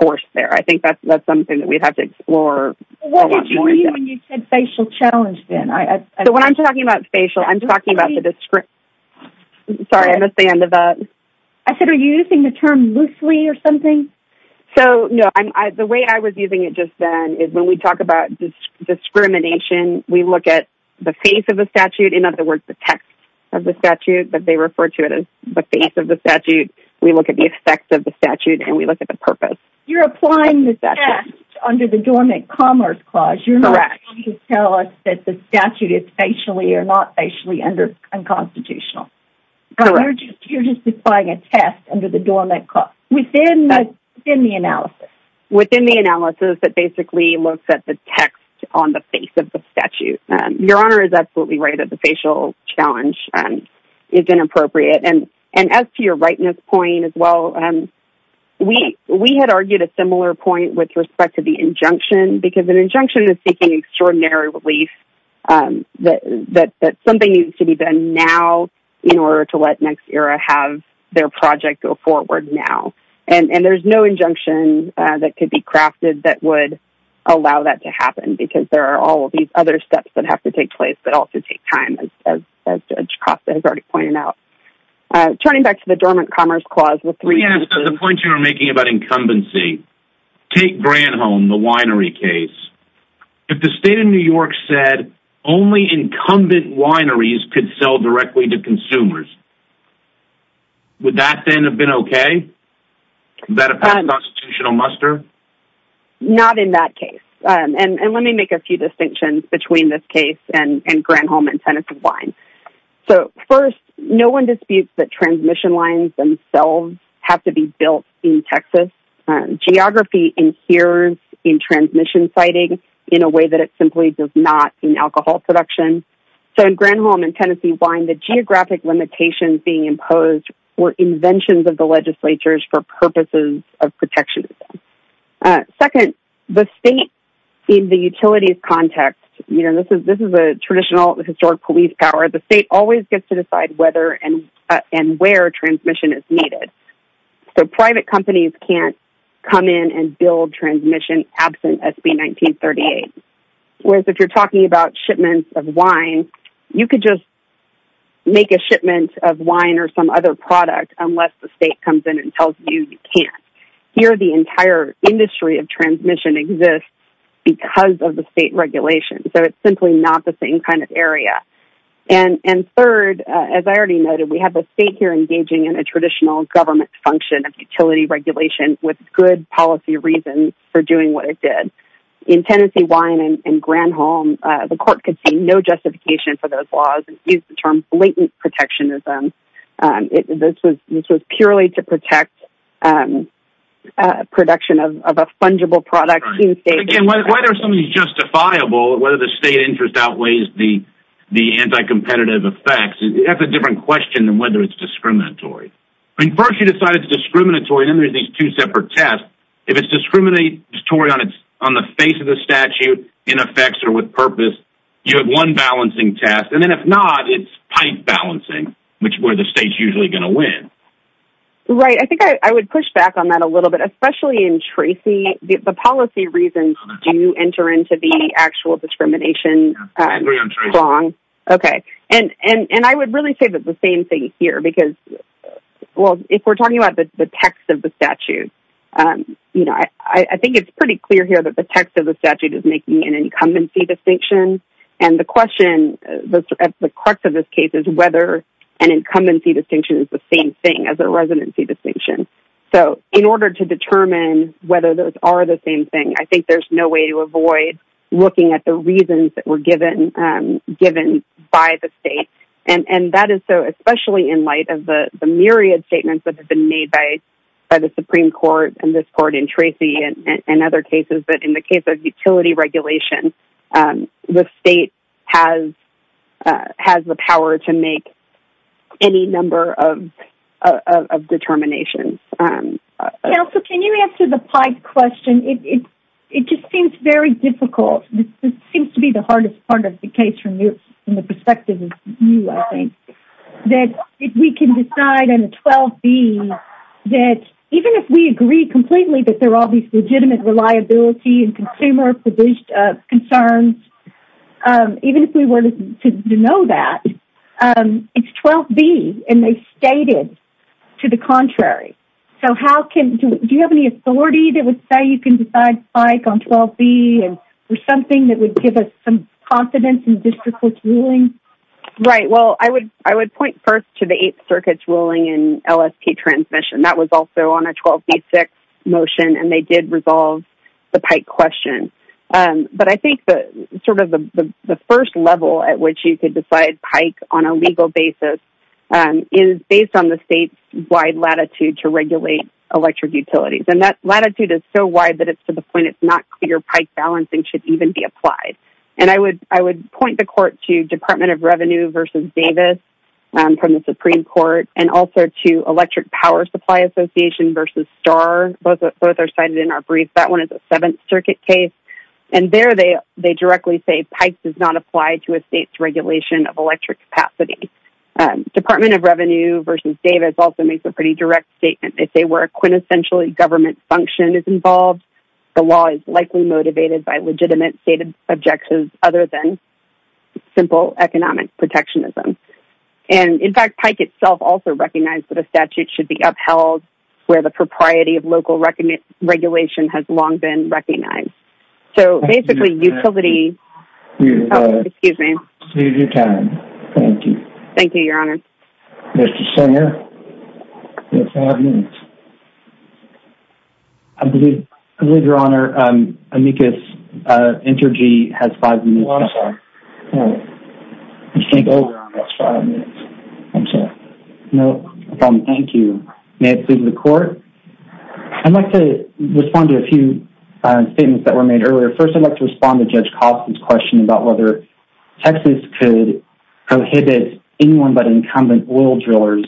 force there. I think that's something that we'd have to explore a lot more. What did you mean when you said facial challenge, then? So when I'm talking about facial, I'm talking about the... Sorry, I missed the end of that. I said, are you using the term loosely or something? So, no, the way I was using it just then is when we talk about discrimination, we look at the face of the statute, in other words, the text of the statute, but they refer to it as the face of the statute. We look at the effect of the statute, and we look at the purpose. You're applying the statute under the Dormant Commerce Clause. You're not trying to tell us that the statute is facially or not facially unconstitutional. Correct. You're just applying a test under the Dormant... Within the analysis. Within the analysis that basically looks at the text on the face of the statute. Your Honor is absolutely right that the facial challenge is inappropriate. And as to your rightness point as well, we had argued a similar point with respect to the injunction because an injunction is seeking extraordinary relief that something needs to be done now in order to let NextEra have their project go forward now. And there's no injunction that could be crafted that would allow that to happen because there are all of these other steps that have to take place that also take time, as Judge Costa has already pointed out. Turning back to the Dormant Commerce Clause... Let me ask the point you were making about incumbency. Take Granholm, the winery case. If the state of New York said only incumbent wineries could sell directly to consumers, would that then have been okay? Would that have been a constitutional muster? Not in that case. And let me make a few distinctions between this case and Granholm and Tennessee wine. So, first, no one disputes that transmission lines themselves have to be built in Texas. Geography inheres in transmission siting in a way that it simply does not in alcohol production. So in Granholm and Tennessee wine, the geographic limitations being imposed were inventions of the legislatures for purposes of protectionism. Second, the state in the utilities context... You know, this is a traditional historic police power. The state always gets to decide whether and where transmission is needed. So private companies can't come in and build transmission absent SB 1938. Whereas if you're talking about shipments of wine, you could just make a shipment of wine or some other product unless the state comes in and tells you you can't. Here, the entire industry of transmission exists because of the state regulation. So it's simply not the same kind of area. And third, as I already noted, we have a state here engaging in a traditional government function of utility regulation with good policy reasons for doing what it did. In Tennessee wine and Granholm, the court could see no justification for those laws and used the term blatant protectionism. This was purely to protect production of a fungible product. Again, why are some of these justifiable? Whether the state interest outweighs the anti-competitive effects? That's a different question than whether it's discriminatory. I mean, first you decide it's discriminatory, then there's these two separate tests. If it's discriminatory on the face of the statute, in effects or with purpose, you have one balancing test. And then if not, it's pipe balancing, which is where the state's usually going to win. Right. I think I would push back on that a little bit, especially in Tracy. The policy reasons do enter into the actual discrimination. I agree on Tracy. Okay. And I would really say that the same thing here. Because, well, if we're talking about the text of the statute, I think it's pretty clear here that the text of the statute is making an incumbency distinction. And the question, at the crux of this case, is whether an incumbency distinction is the same thing as a residency distinction. So in order to determine whether those are the same thing, I think there's no way to avoid looking at the reasons that were given by the state. And that is so, especially in light of the myriad statements that have been made by the Supreme Court and this Court and Tracy and other cases, but in the case of utility regulation, the state has the power to make any number of determinations. Counsel, can you answer the pipe question? It just seems very difficult. This seems to be the hardest part of the case from the perspective of you, I think, that if we can decide on a 12B, that even if we agree completely that there are all these legitimate reliability and consumer concerns, even if we were to know that, it's 12B, and they stated to the contrary. So do you have any authority that would say you can decide spike on 12B for something that would give us some confidence in district court's ruling? Right. Well, I would point first to the Eighth Circuit's ruling in LSP transmission. And that was also on a 12B6 motion, and they did resolve the pipe question. But I think sort of the first level at which you could decide pipe on a legal basis is based on the state's wide latitude to regulate electric utilities. And that latitude is so wide that it's to the point it's not clear pipe balancing should even be applied. And I would point the court to Department of Revenue versus Davis from the Supreme Court and also to Electric Power Supply Association versus Star. Both are cited in our brief. That one is a Seventh Circuit case. And there they directly say pipe does not apply to a state's regulation of electric capacity. Department of Revenue versus Davis also makes a pretty direct statement. They say where a quintessentially government function is involved, the law is likely motivated by legitimate stated objections other than simple economic protectionism. And, in fact, Pike itself also recognized that a statute should be upheld where the propriety of local regulation has long been recognized. So basically utility. Excuse me. Excuse your time. Thank you. Thank you, Your Honor. Mr. Singer, you have five minutes. I believe, Your Honor, Amicus Entergy has five minutes. Well, I'm sorry. You take over on those five minutes. I'm sorry. No problem. Thank you. May it please the court? I'd like to respond to a few statements that were made earlier. First, I'd like to respond to Judge Coffman's question about whether Texas could prohibit anyone but incumbent oil drillers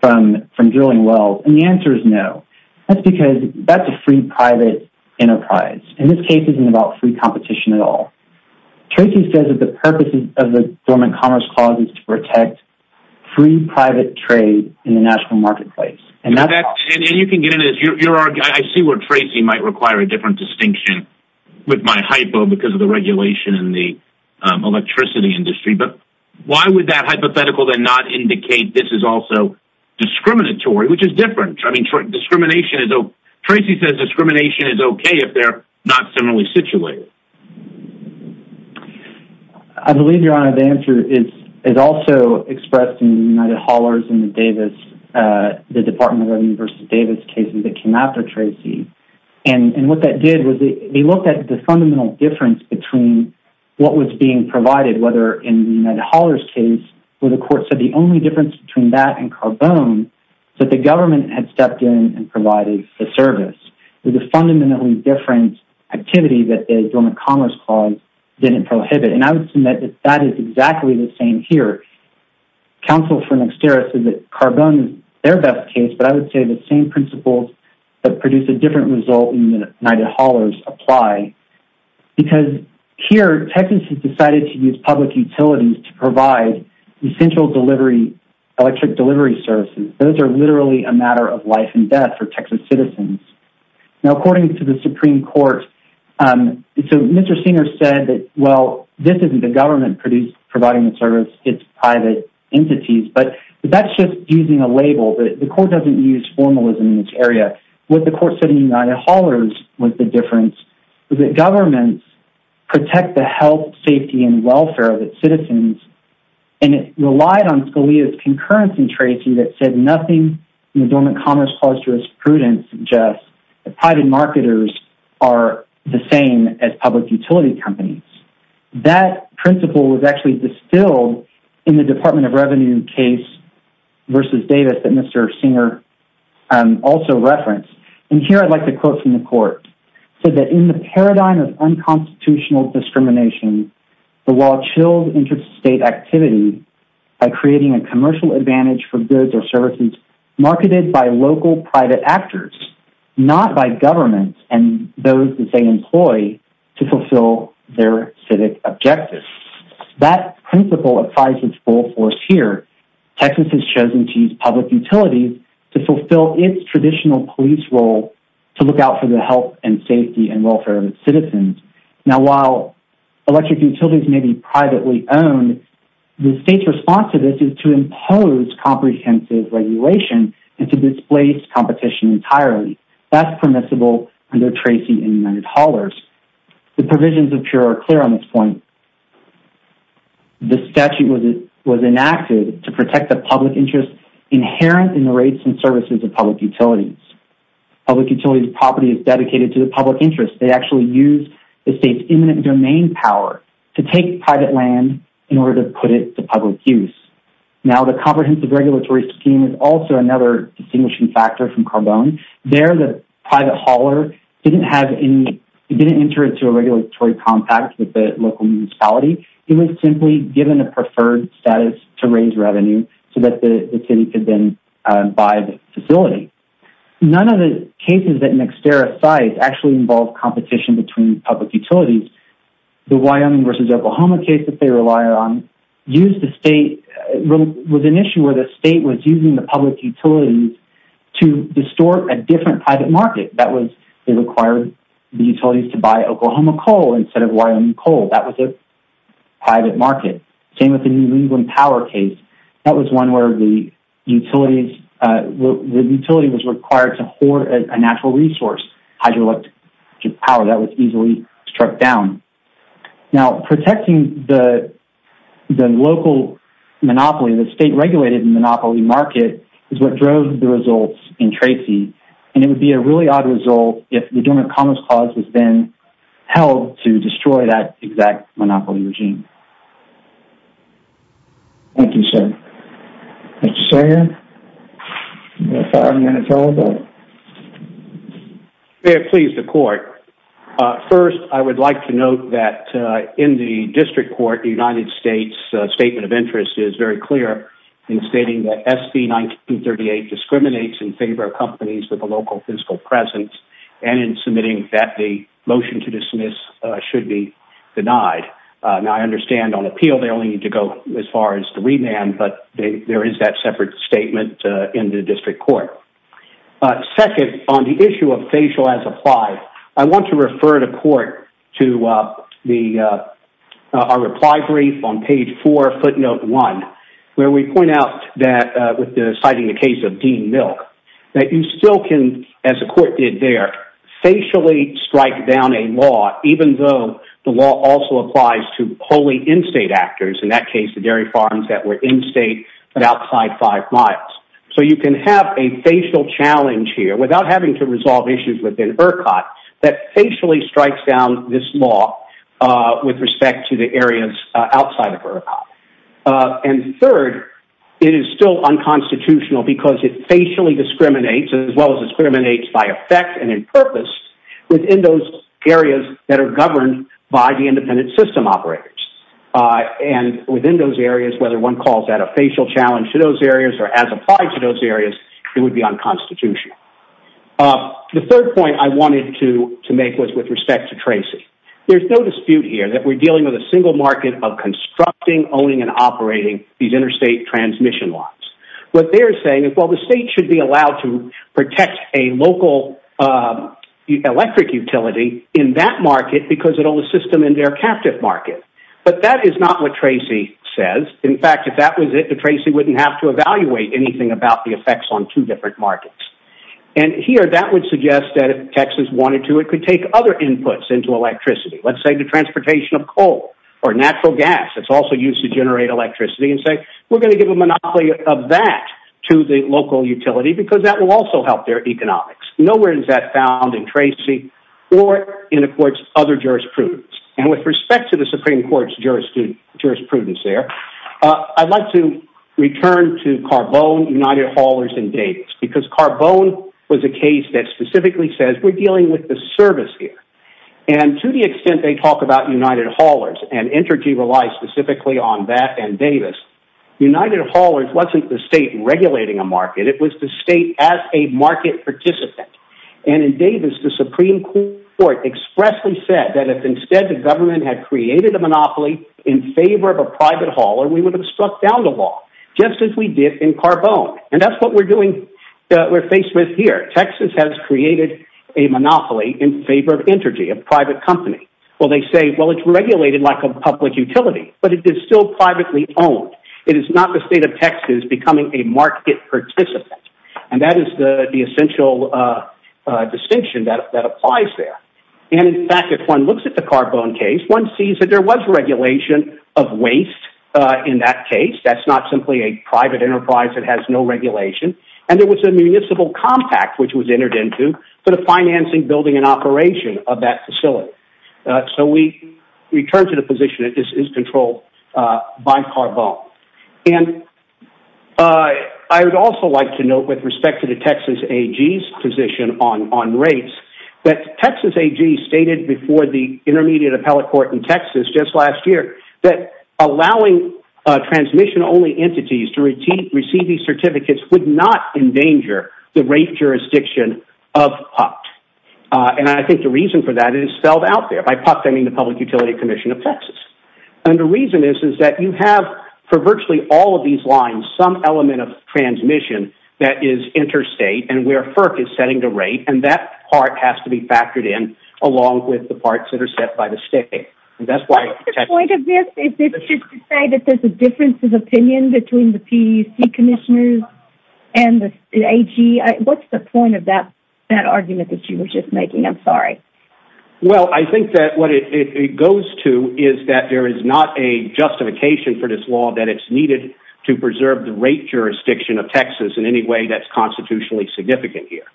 from drilling wells. And the answer is no. That's because that's a free private enterprise. And this case isn't about free competition at all. Tracy says that the purpose of the Dormant Commerce Clause is to protect free private trade in the national marketplace. And you can get into this. I see where Tracy might require a different distinction with my hypo because of the regulation in the electricity industry. But why would that hypothetical then not indicate this is also discriminatory, which is different. Tracy says discrimination is okay if they're not similarly situated. I believe, Your Honor, the answer is also expressed in the United Haulers and the Davis, the Department of Revenue versus Davis cases that came after Tracy. And what that did was they looked at the fundamental difference between what was being provided, whether in the United Haulers case where the court said the only difference between that and carbone was that the government had stepped in and provided the service. It was a fundamentally different activity that the Dormant Commerce Clause didn't prohibit. And I would submit that that is exactly the same here. Counsel for Nexterra says that carbone is their best case, but I would say the same principles that produce a different result in the United Haulers apply. Because here, Texas has decided to use public utilities to provide essential electric delivery services. Those are literally a matter of life and death for Texas citizens. Now, according to the Supreme Court, Mr. Singer said that, well, this isn't the government providing the service, it's private entities. But that's just using a label. The court doesn't use formalism in this area. What the court said in the United Haulers was the difference was that governments protect the health, safety, and welfare of its citizens, and it relied on Scalia's concurrence in Tracy that said nothing in the Dormant Commerce Clause to its prudence suggests that private marketers are the same as public utility companies. That principle was actually distilled in the Department of Revenue case versus Davis that Mr. Singer also referenced. And here I'd like to quote from the court. He said that, in the paradigm of unconstitutional discrimination, the law chills interstate activity by creating a commercial advantage for goods or services marketed by local private actors, not by governments and those that they employ to fulfill their civic objectives. That principle applies its full force here. Texas has chosen to use public utilities to fulfill its traditional police role to look out for the health and safety and welfare of its citizens. Now, while electric utilities may be privately owned, the state's response to this is to impose comprehensive regulation and to displace competition entirely. That's permissible under Tracy and the United Haulers. The provisions of PURE are clear on this point. The statute was enacted to protect the public interest inherent in the rates and services of public utilities. Public utilities' property is dedicated to the public interest. They actually use the state's imminent domain power to take private land in order to put it to public use. Now, the comprehensive regulatory scheme is also another distinguishing factor from Carbone. There, the private hauler didn't have any... didn't enter into a regulatory contact with the local municipality. He was simply given a preferred status to raise revenue so that the city could then buy the facility. None of the cases that McSterra cite actually involve competition between public utilities. The Wyoming v. Oklahoma case that they relied on used the state... was an issue where the state was using the public utilities to distort a different private market. That was, they required the utilities to buy Oklahoma coal instead of Wyoming coal. That was a private market. Same with the New England Power case. That was one where the utilities... the utility was required to hoard a natural resource, hydroelectric power. That was easily struck down. Now, protecting the local monopoly, the state-regulated monopoly market, is what drove the results in Tracy, and it would be a really odd result if the Dormant Commons Clause was then held to destroy that exact monopoly regime. Thank you, sir. Mr. Sawyer? You have five minutes, all of you. Mayor, please, the court. First, I would like to note that in the district court, the United States Statement of Interest is very clear in stating that SB 1938 discriminates in favor of companies with a local fiscal presence and in submitting that the motion to dismiss should be denied. Now, I understand on appeal, they only need to go as far as the remand, but there is that separate statement in the district court. Second, on the issue of facial as applied, I want to refer the court to our reply brief on page 4, footnote 1, where we point out that, citing the case of Dean Milk, that you still can, as the court did there, facially strike down a law, even though the law also applies to wholly in-state actors, in that case, the dairy farms that were in-state but outside five miles. So you can have a facial challenge here without having to resolve issues within ERCOT that facially strikes down this law with respect to the areas outside of ERCOT. And third, it is still unconstitutional because it facially discriminates as well as discriminates by effect and in purpose within those areas that are governed by the independent system operators. And within those areas, whether one calls that a facial challenge to those areas or as applied to those areas, it would be unconstitutional. The third point I wanted to make was with respect to Tracy. There's no dispute here that we're dealing with a single market of constructing, owning, and operating these interstate transmission lines. What they're saying is, well, the state should be allowed to protect a local electric utility in that market because it'll assist them in their captive market. But that is not what Tracy says. In fact, if that was it, Tracy wouldn't have to evaluate anything about the effects on two different markets. And here, that would suggest that if Texas wanted to, it could take other inputs into electricity. Let's say the transportation of coal or natural gas that's also used to generate electricity and say, we're gonna give a monopoly of that to the local utility because that will also help their economics. Nowhere is that found in Tracy or in other jurisprudence. And with respect to the Supreme Court's jurisprudence there, I'd like to return to Carbone, United Haulers, and Davis because Carbone was a case that specifically says we're dealing with the service here. And to the extent they talk about United Haulers and Entergy relies specifically on that and Davis, United Haulers wasn't the state regulating a market. It was the state as a market participant. And in Davis, the Supreme Court expressly said that if instead the government had created a monopoly in favor of a private hauler, we would have struck down the law just as we did in Carbone. And that's what we're doing, we're faced with here. Texas has created a monopoly in favor of Entergy, a private company. Well, they say, well, it's regulated like a public utility, but it is still privately owned. It is not the state of Texas becoming a market participant. And that is the essential distinction that applies there. And in fact, if one looks at the Carbone case, one sees that there was regulation of waste in that case. That's not simply a private enterprise, it has no regulation. And there was a municipal compact, which was entered into for the financing, building and operation of that facility. So we return to the position that this is controlled by Carbone. And I would also like to note with respect to the Texas AG's position on rates, that Texas AG stated before the Intermediate Appellate Court in Texas just last year, that allowing transmission-only entities to receive these certificates would not endanger the rate jurisdiction of PUCT. And I think the reason for that is spelled out there, by PUCT, I mean the Public Utility Commission of Texas. And the reason is that you have, for virtually all of these lines, some element of transmission that is interstate and where FERC is setting the rate, and that part has to be factored in, along with the parts that are set by the state. And that's why- What's the point of this? Is this just to say that there's a difference of opinion between the PUC commissioners and the AG? What's the point of that argument that you were just making? I'm sorry. Well, I think that what it goes to is that there is not a justification for this law that it's needed to preserve the rate jurisdiction of Texas in any way that's constitutionally significant here.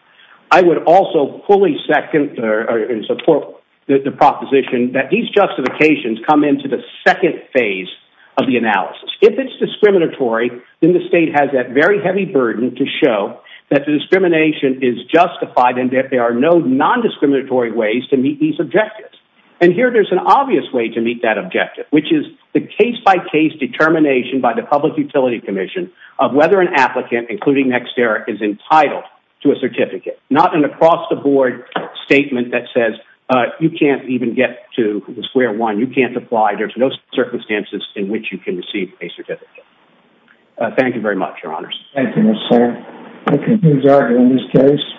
I would also fully second, or support, the proposition that these justifications come into the second phase of the analysis. If it's discriminatory, then the state has that very heavy burden to show that the discrimination is justified and that there are no non-discriminatory ways to meet these objectives. And here there's an obvious way to meet that objective, which is the case-by-case determination by the Public Utility Commission of whether an applicant, including Nextera, is entitled to a certificate. Not an across-the-board statement that says, uh, you can't even get to the square one. You can't apply. There's no circumstances in which you can receive a certificate. Thank you very much, Your Honors. Thank you, Mr. Senator. That concludes our hearing in this case.